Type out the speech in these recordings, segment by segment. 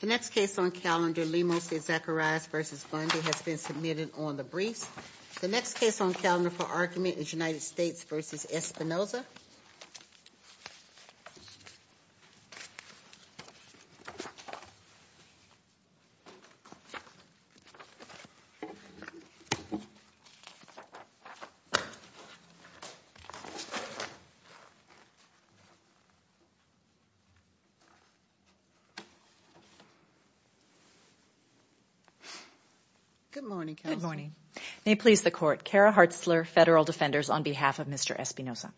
The next case on calendar, Lemos v. Zacharias v. Bundy, has been submitted on the briefs. The next case on calendar for argument is United States v. Espinoza. Good morning. May it please the Court, Kara Hartzler, Federal Defenders, on behalf of Mr. Espinoza.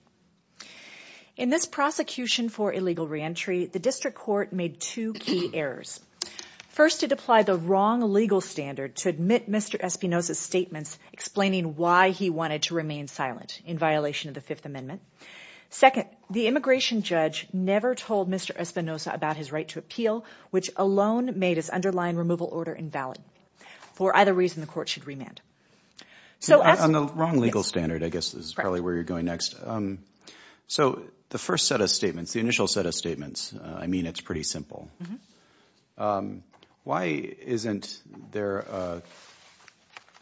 In this prosecution for illegal reentry, the District Court made two key errors. First, it applied the wrong legal standard to admit Mr. Espinoza's statements explaining why he wanted to remain silent in violation of the Fifth Amendment. Second, the immigration judge never told Mr. Espinoza about his right to appeal, which alone made his underlying removal order invalid. For either reason, the Court should remand. So the first set of statements, the initial set of statements, I mean it's pretty simple. Why isn't there a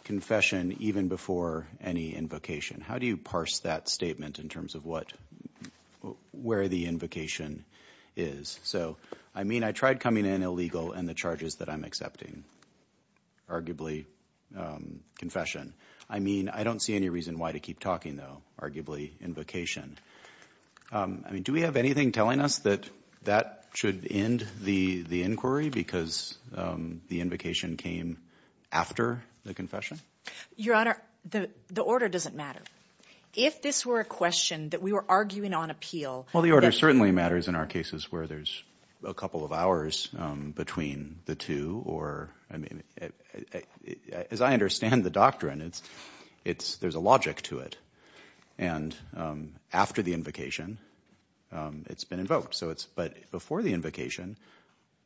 confession even before any invocation? How do you parse that statement in terms of where the invocation is? So, I mean, I tried coming in illegal and the charges that I'm accepting, arguably confession. I mean, I don't see any reason why to keep talking, though, arguably invocation. I mean, do we have anything telling us that that should end the inquiry because the invocation came after the confession? Your Honor, the order doesn't matter. If this were a question that we were arguing on appeal— Well, the order certainly matters in our cases where there's a couple of hours between the two. I mean, as I understand the doctrine, there's a logic to it. And after the invocation, it's been invoked. But before the invocation,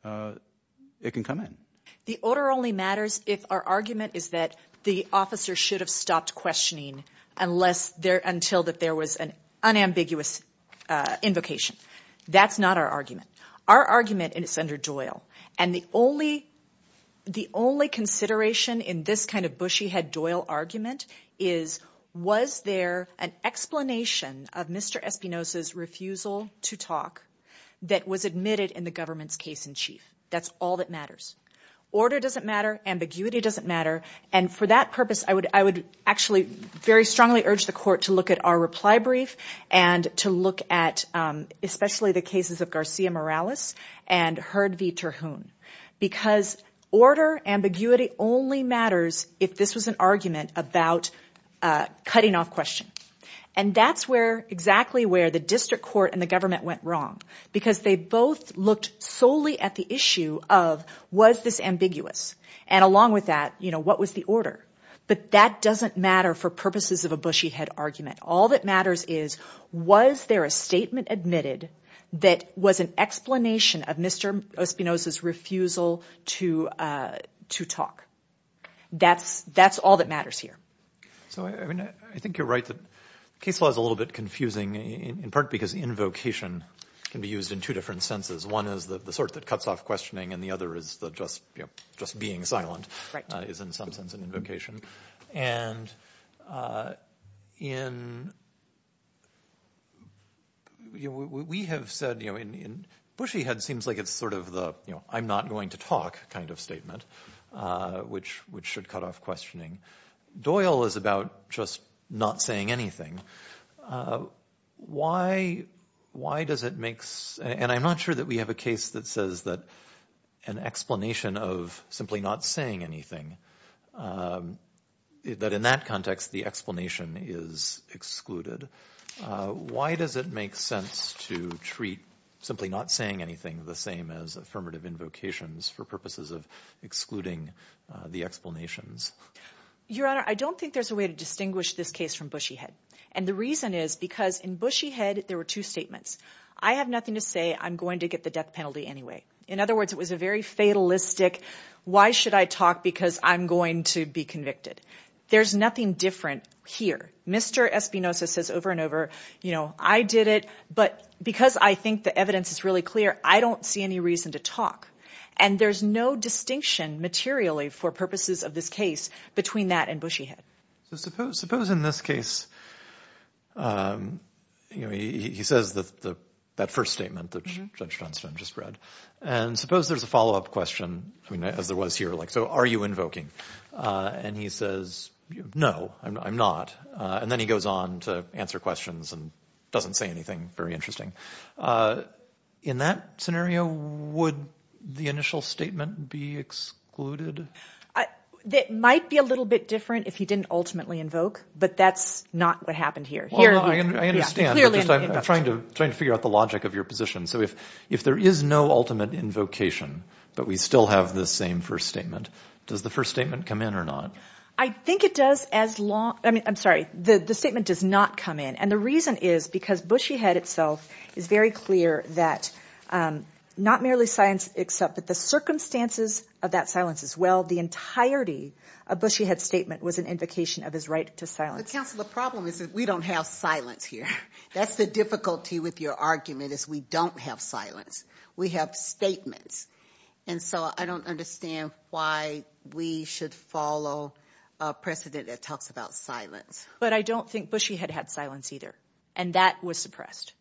it can come in. The order only matters if our argument is that the officer should have stopped questioning until there was an unambiguous invocation. That's not our argument. Our argument is under Doyle. And the only consideration in this kind of bushy-head Doyle argument is, was there an explanation of Mr. Espinoza's refusal to talk that was admitted in the government's case in chief? That's all that matters. Order doesn't matter. Ambiguity doesn't matter. And for that purpose, I would actually very strongly urge the Court to look at our reply brief and to look at especially the cases of Garcia Morales and Hurd v. Terhune because order, ambiguity only matters if this was an argument about cutting off question. And that's exactly where the district court and the government went wrong because they both looked solely at the issue of, was this ambiguous? And along with that, what was the order? But that doesn't matter for purposes of a bushy-head argument. All that matters is, was there a statement admitted that was an explanation of Mr. Espinoza's refusal to talk? That's all that matters here. So, I mean, I think you're right that case law is a little bit confusing in part because invocation can be used in two different senses. One is the sort that cuts off questioning and the other is the just being silent is in some sense an invocation. And in, you know, we have said, you know, in bushy-head seems like it's sort of the, you know, I'm not going to talk kind of statement which should cut off questioning. Doyle is about just not saying anything. Why does it make sense? And I'm not sure that we have a case that says that an explanation of simply not saying anything, that in that context the explanation is excluded. Why does it make sense to treat simply not saying anything the same as affirmative invocations for purposes of excluding the explanations? Your Honor, I don't think there's a way to distinguish this case from bushy-head. And the reason is because in bushy-head there were two statements. I have nothing to say. I'm going to get the death penalty anyway. In other words, it was a very fatalistic, why should I talk because I'm going to be convicted. There's nothing different here. Mr. Espinoza says over and over, you know, I did it, but because I think the evidence is really clear, I don't see any reason to talk. And there's no distinction materially for purposes of this case between that and bushy-head. So suppose in this case, you know, he says that first statement that Judge Johnstone just read. And suppose there's a follow-up question, as there was here, like so are you invoking? And he says, no, I'm not. And then he goes on to answer questions and doesn't say anything very interesting. In that scenario, would the initial statement be excluded? It might be a little bit different if he didn't ultimately invoke. But that's not what happened here. I understand. I'm trying to figure out the logic of your position. So if there is no ultimate invocation, but we still have the same first statement, does the first statement come in or not? I think it does as long, I'm sorry, the statement does not come in. And the reason is because bushy-head itself is very clear that not merely silence, except that the circumstances of that silence as well, the entirety of bushy-head's statement was an invocation of his right to silence. But, counsel, the problem is that we don't have silence here. That's the difficulty with your argument is we don't have silence. We have statements. And so I don't understand why we should follow a precedent that talks about silence. But I don't think bushy-head had silence either, and that was suppressed.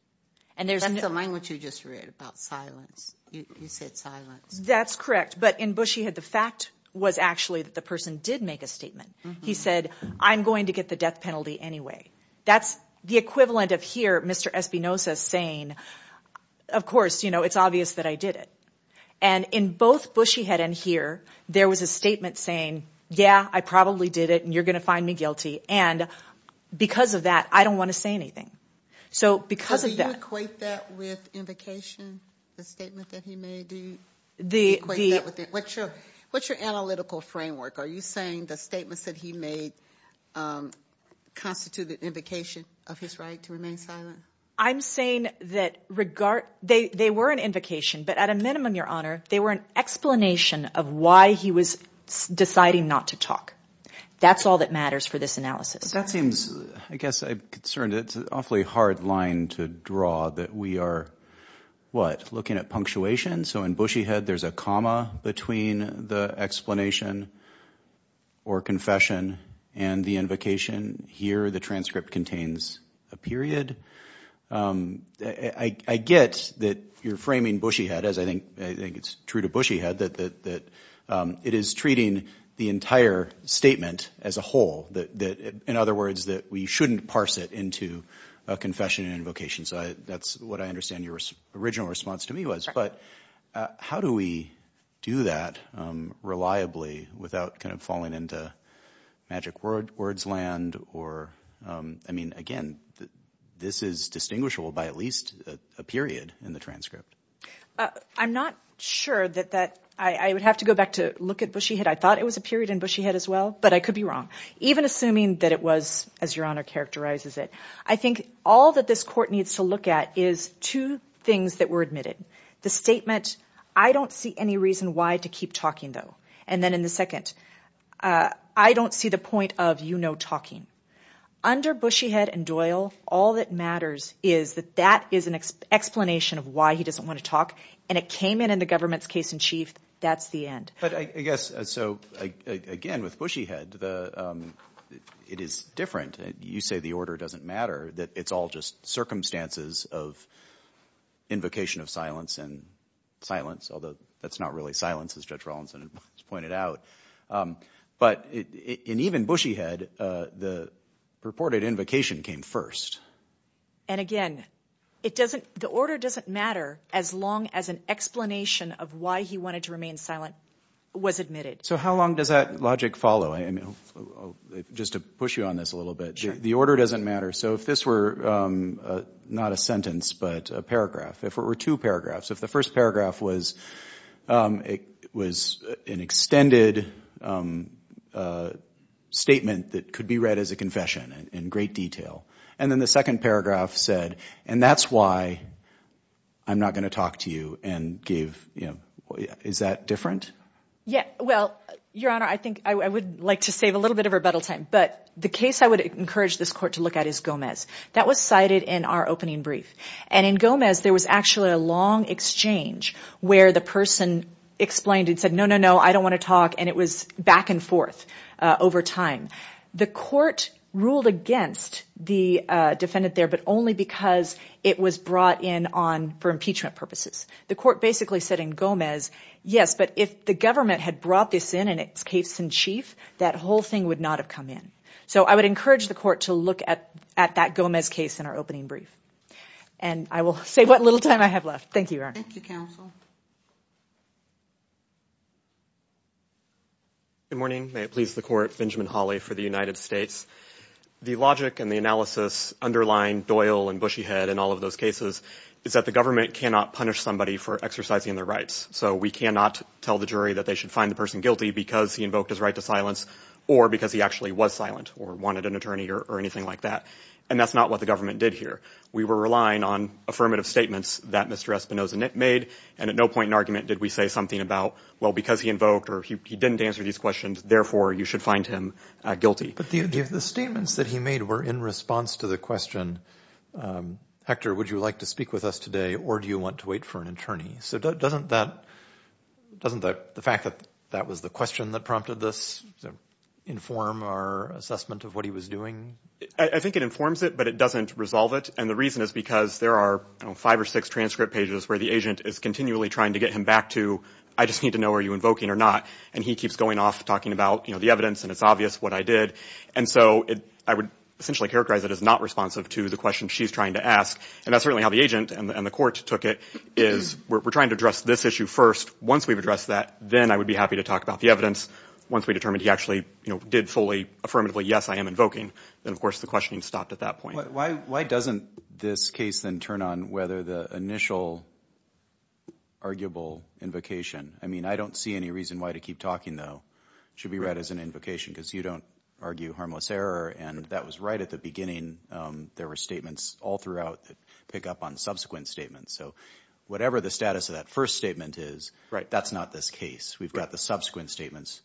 That's the language you just read about silence. You said silence. That's correct. But in bushy-head, the fact was actually that the person did make a statement. He said, I'm going to get the death penalty anyway. That's the equivalent of here Mr. Espinoza saying, of course, you know, it's obvious that I did it. And in both bushy-head and here, there was a statement saying, yeah, I probably did it, and you're going to find me guilty. And because of that, I don't want to say anything. So because of that. So do you equate that with invocation, the statement that he made? Do you equate that with that? What's your analytical framework? Are you saying the statements that he made constituted invocation of his right to remain silent? I'm saying that they were an invocation, but at a minimum, Your Honor, they were an explanation of why he was deciding not to talk. That's all that matters for this analysis. That seems, I guess I'm concerned. It's an awfully hard line to draw that we are, what, looking at punctuation? So in bushy-head, there's a comma between the explanation or confession and the invocation. Here, the transcript contains a period. I get that you're framing bushy-head, as I think it's true to bushy-head, that it is treating the entire statement as a whole. In other words, that we shouldn't parse it into a confession and invocation. So that's what I understand your original response to me was. But how do we do that reliably without kind of falling into magic words land? I mean, again, this is distinguishable by at least a period in the transcript. I'm not sure that that – I would have to go back to look at bushy-head. I thought it was a period in bushy-head as well, but I could be wrong. Even assuming that it was, as Your Honor characterizes it, I think all that this court needs to look at is two things that were admitted. The statement, I don't see any reason why to keep talking, though. And then in the second, I don't see the point of you no talking. Under bushy-head and Doyle, all that matters is that that is an explanation of why he doesn't want to talk, and it came in in the government's case in chief. That's the end. But I guess – so again, with bushy-head, it is different. You say the order doesn't matter, that it's all just circumstances of invocation of silence and silence, although that's not really silence, as Judge Rawlinson has pointed out. But in even bushy-head, the purported invocation came first. And again, it doesn't – the order doesn't matter as long as an explanation of why he wanted to remain silent was admitted. So how long does that logic follow? Just to push you on this a little bit. Sure. The order doesn't matter. So if this were not a sentence but a paragraph, if it were two paragraphs, if the first paragraph was an extended statement that could be read as a confession in great detail, and then the second paragraph said, and that's why I'm not going to talk to you and give – is that different? Yeah. Well, Your Honor, I think I would like to save a little bit of rebuttal time. But the case I would encourage this court to look at is Gomez. That was cited in our opening brief. And in Gomez, there was actually a long exchange where the person explained and said, no, no, no, I don't want to talk, and it was back and forth over time. The court ruled against the defendant there but only because it was brought in for impeachment purposes. The court basically said in Gomez, yes, but if the government had brought this in in its case in chief, that whole thing would not have come in. So I would encourage the court to look at that Gomez case in our opening brief. And I will save what little time I have left. Thank you, Your Honor. Thank you, counsel. Good morning. May it please the Court. Benjamin Hawley for the United States. The logic and the analysis underlying Doyle and Bushyhead and all of those cases is that the government cannot punish somebody for exercising their rights. So we cannot tell the jury that they should find the person guilty because he invoked his right to silence or because he actually was silent or wanted an attorney or anything like that. And that's not what the government did here. We were relying on affirmative statements that Mr. Espinoza made, and at no point in argument did we say something about, well, because he invoked or he didn't answer these questions, therefore you should find him guilty. But the statements that he made were in response to the question, Hector, would you like to speak with us today or do you want to wait for an attorney? So doesn't the fact that that was the question that prompted this inform our assessment of what he was doing? I think it informs it, but it doesn't resolve it. And the reason is because there are five or six transcript pages where the agent is continually trying to get him back to, I just need to know are you invoking or not, and he keeps going off talking about the evidence and it's obvious what I did. And so I would essentially characterize it as not responsive to the question she's trying to ask, and that's certainly how the agent and the court took it, is we're trying to address this issue first. Once we've addressed that, then I would be happy to talk about the evidence. Once we determine he actually did fully affirmatively, yes, I am invoking, then, of course, the questioning stopped at that point. Why doesn't this case then turn on whether the initial arguable invocation, I mean I don't see any reason why to keep talking, though, should be read as an invocation because you don't argue harmless error, and that was right at the beginning. There were statements all throughout that pick up on subsequent statements. So whatever the status of that first statement is, that's not this case. We've got the subsequent statements.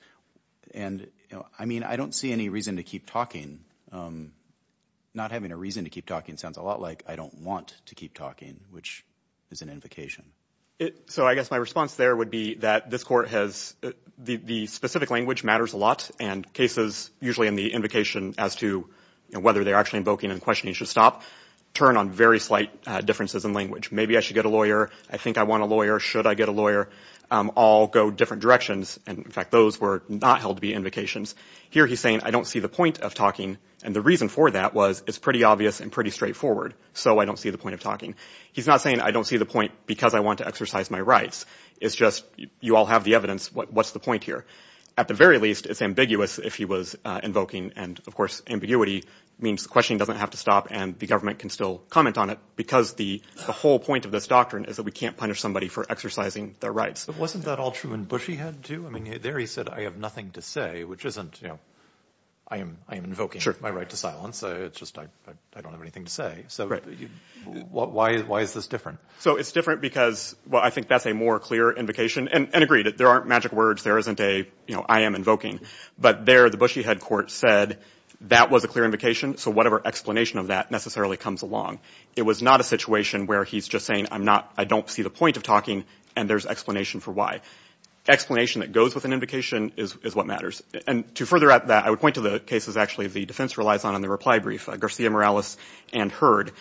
And, you know, I mean I don't see any reason to keep talking. Not having a reason to keep talking sounds a lot like I don't want to keep talking, which is an invocation. So I guess my response there would be that this court has the specific language matters a lot, and cases usually in the invocation as to whether they're actually invoking and questioning should stop turn on very slight differences in language. Maybe I should get a lawyer. I think I want a lawyer. Should I get a lawyer? All go different directions, and in fact those were not held to be invocations. Here he's saying I don't see the point of talking, and the reason for that was it's pretty obvious and pretty straightforward, so I don't see the point of talking. He's not saying I don't see the point because I want to exercise my rights. It's just you all have the evidence. What's the point here? At the very least, it's ambiguous if he was invoking, and of course ambiguity means questioning doesn't have to stop and the government can still comment on it because the whole point of this doctrine is that we can't punish somebody for exercising their rights. Wasn't that all true in Bushyhead too? There he said I have nothing to say, which isn't I am invoking my right to silence. It's just I don't have anything to say, so why is this different? It's different because I think that's a more clear invocation, and agreed. There aren't magic words. There isn't a I am invoking, but there the Bushyhead court said that was a clear invocation, so whatever explanation of that necessarily comes along. It was not a situation where he's just saying I don't see the point of talking, and there's explanation for why. Explanation that goes with an invocation is what matters. To further that, I would point to the cases actually the defense relies on in the reply brief, Garcia-Morales and Heard.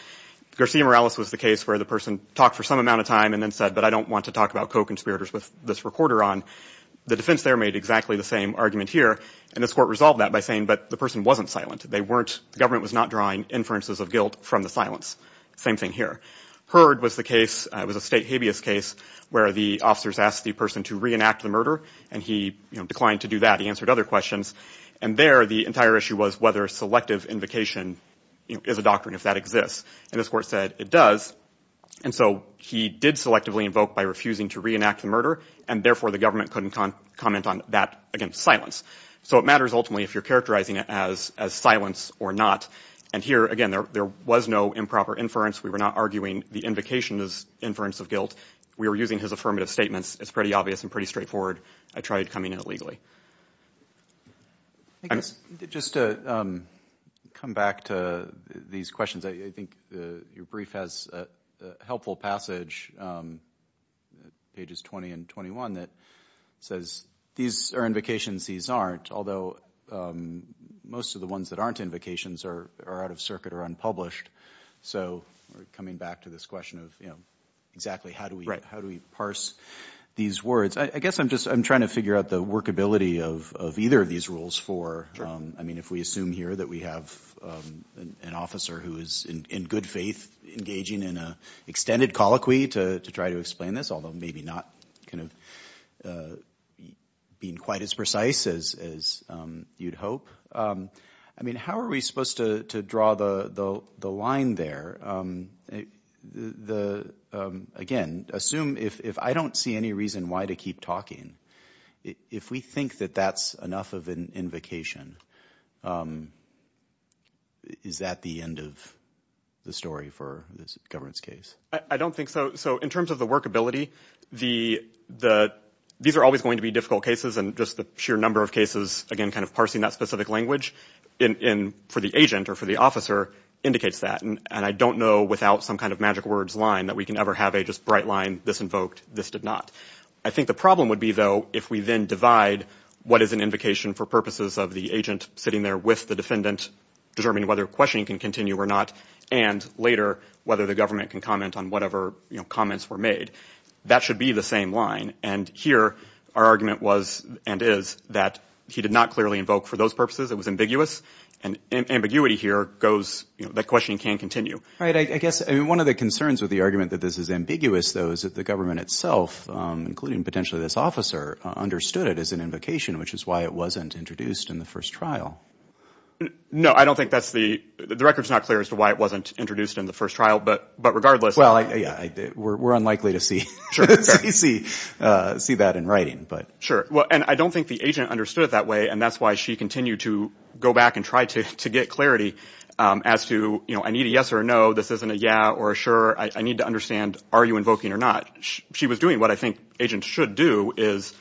Garcia-Morales was the case where the person talked for some amount of time and then said, but I don't want to talk about co-conspirators with this recorder on. The defense there made exactly the same argument here, and this court resolved that by saying, but the person wasn't silent. The government was not drawing inferences of guilt from the silence. Same thing here. Heard was a state habeas case where the officers asked the person to reenact the murder, and he declined to do that. He answered other questions. There, the entire issue was whether selective invocation is a doctrine, if that exists. This court said it does, and so he did selectively invoke by refusing to reenact the murder, and therefore the government couldn't comment on that against silence. So it matters ultimately if you're characterizing it as silence or not. And here, again, there was no improper inference. We were not arguing the invocation is inference of guilt. We were using his affirmative statements. It's pretty obvious and pretty straightforward. I tried coming in illegally. Just to come back to these questions, I think your brief has a helpful passage, pages 20 and 21, that says these are invocations, these aren't, although most of the ones that aren't invocations are out of circuit or unpublished. So we're coming back to this question of exactly how do we parse these words. I guess I'm just trying to figure out the workability of either of these rules for, I mean, if we assume here that we have an officer who is in good faith engaging in an extended colloquy to try to explain this, although maybe not kind of being quite as precise as you'd hope. I mean, how are we supposed to draw the line there? Again, assume if I don't see any reason why to keep talking, if we think that that's enough of an invocation, is that the end of the story for this governance case? I don't think so. So in terms of the workability, these are always going to be difficult cases, and just the sheer number of cases, again, kind of parsing that specific language, for the agent or for the officer, indicates that. And I don't know without some kind of magic words line that we can ever have a just bright line, this invoked, this did not. I think the problem would be, though, if we then divide what is an invocation for purposes of the agent sitting there with the defendant, determining whether questioning can continue or not, and later whether the government can comment on whatever comments were made. That should be the same line. And here our argument was and is that he did not clearly invoke for those purposes. It was ambiguous. And ambiguity here goes that questioning can continue. All right. I guess one of the concerns with the argument that this is ambiguous, though, is that the government itself, including potentially this officer, understood it as an invocation, which is why it wasn't introduced in the first trial. No, I don't think that's the – the record's not clear as to why it wasn't introduced in the first trial, but regardless. Well, yeah, we're unlikely to see that in writing. Sure. Well, and I don't think the agent understood it that way, and that's why she continued to go back and try to get clarity as to, you know, I need a yes or a no. This isn't a yeah or a sure. I need to understand are you invoking or not. She was doing what I think agents should do is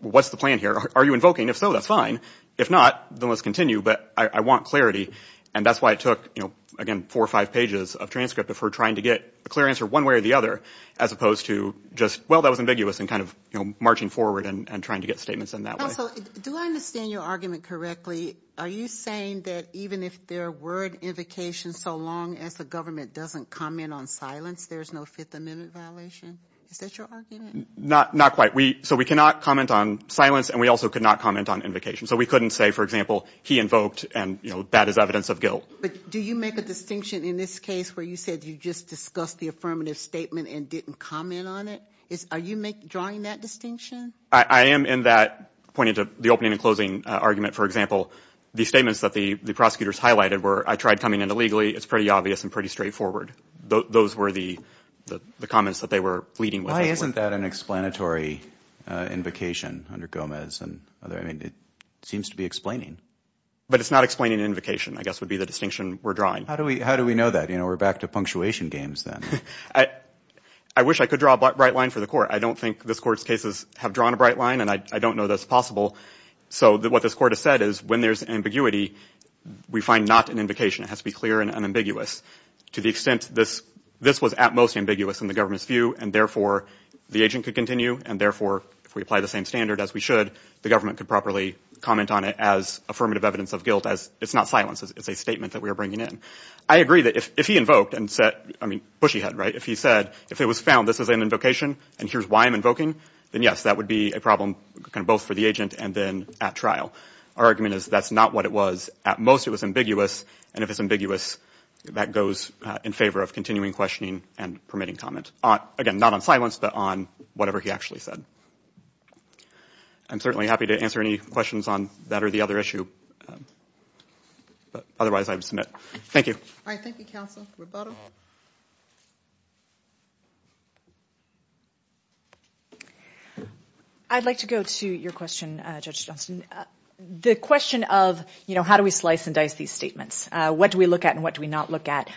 what's the plan here? Are you invoking? If so, that's fine. If not, then let's continue. But I want clarity, and that's why it took, you know, again, four or five pages of transcript of her trying to get a clear answer one way or the other as opposed to just, well, that was ambiguous and kind of, you know, marching forward and trying to get statements in that way. Also, do I understand your argument correctly? Are you saying that even if there were an invocation, so long as the government doesn't comment on silence, there's no Fifth Amendment violation? Is that your argument? Not quite. So we cannot comment on silence, and we also could not comment on invocation. So we couldn't say, for example, he invoked, and, you know, that is evidence of guilt. But do you make a distinction in this case where you said you just discussed the affirmative statement and didn't comment on it? Are you drawing that distinction? I am in that pointing to the opening and closing argument. For example, the statements that the prosecutors highlighted were, I tried coming in illegally. It's pretty obvious and pretty straightforward. Those were the comments that they were leading with. Why isn't that an explanatory invocation under Gomez? I mean, it seems to be explaining. But it's not explaining an invocation, I guess, would be the distinction we're drawing. How do we know that? You know, we're back to punctuation games then. I wish I could draw a bright line for the court. I don't think this court's cases have drawn a bright line, and I don't know that's possible. So what this court has said is when there's ambiguity, we find not an invocation. It has to be clear and unambiguous to the extent this was at most ambiguous in the government's view, and therefore the agent could continue, and therefore if we apply the same standard as we should, the government could properly comment on it as affirmative evidence of guilt, as it's not silence. It's a statement that we are bringing in. I agree that if he invoked and said, I mean, bushy head, right? If he said, if it was found this is an invocation and here's why I'm invoking, then yes, that would be a problem both for the agent and then at trial. Our argument is that's not what it was. At most it was ambiguous, and if it's ambiguous, that goes in favor of continuing questioning and permitting comment. Again, not on silence, but on whatever he actually said. I'm certainly happy to answer any questions on that or the other issue. Otherwise, I would submit. Thank you. All right, thank you, counsel. I'd like to go to your question, Judge Johnston. The question of how do we slice and dice these statements, what do we look at and what do we not look at,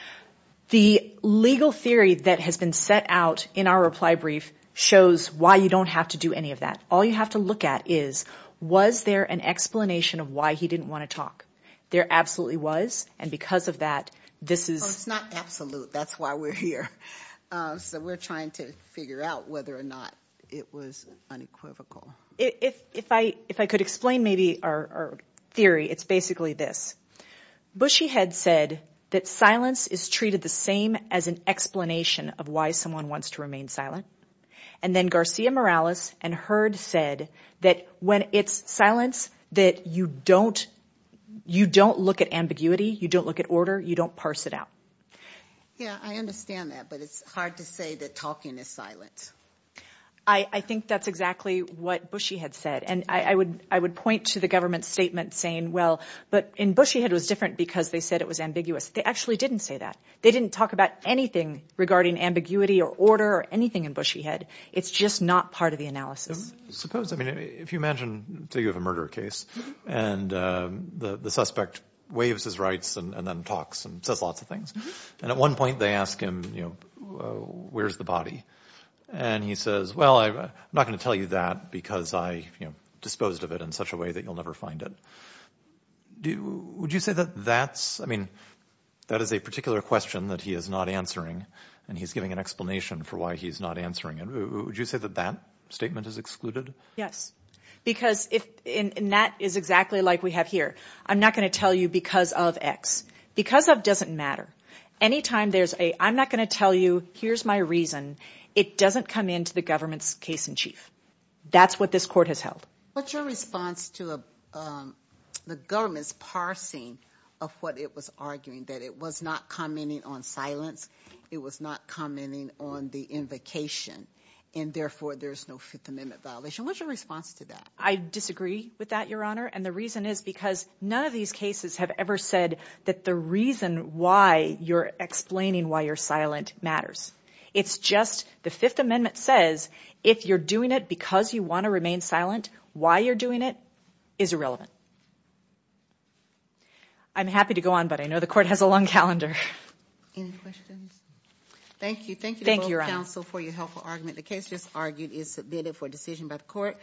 the legal theory that has been set out in our reply brief shows why you don't have to do any of that. All you have to look at is was there an explanation of why he didn't want to talk. There absolutely was, and because of that, this is – It's not absolute. That's why we're here. So we're trying to figure out whether or not it was unequivocal. If I could explain maybe our theory, it's basically this. Bushyhead said that silence is treated the same as an explanation of why someone wants to remain silent, and then Garcia-Morales and Hurd said that when it's silence that you don't look at ambiguity, you don't look at order, you don't parse it out. Yeah, I understand that, but it's hard to say that talking is silence. I think that's exactly what Bushyhead said, and I would point to the government statement saying, well, but in Bushyhead it was different because they said it was ambiguous. They actually didn't say that. They didn't talk about anything regarding ambiguity or order or anything in Bushyhead. It's just not part of the analysis. Suppose, I mean, if you imagine, say you have a murder case, and the suspect waives his rights and then talks and says lots of things, and at one point they ask him, you know, where's the body? And he says, well, I'm not going to tell you that because I, you know, disposed of it in such a way that you'll never find it. Would you say that that's, I mean, that is a particular question that he is not answering, and he's giving an explanation for why he's not answering it. Would you say that that statement is excluded? Yes, because if, and that is exactly like we have here. I'm not going to tell you because of X. Because of doesn't matter. Anytime there's a I'm not going to tell you, here's my reason, it doesn't come into the government's case in chief. That's what this court has held. What's your response to the government's parsing of what it was arguing, that it was not commenting on silence, it was not commenting on the invocation, and therefore there's no Fifth Amendment violation. What's your response to that? I disagree with that, Your Honor, and the reason is because none of these cases have ever said that the reason why you're explaining why you're silent matters. It's just the Fifth Amendment says if you're doing it because you want to remain silent, why you're doing it is irrelevant. I'm happy to go on, but I know the court has a long calendar. Any questions? Thank you. Thank you to both counsel for your helpful argument. The case just argued is submitted for decision by the court.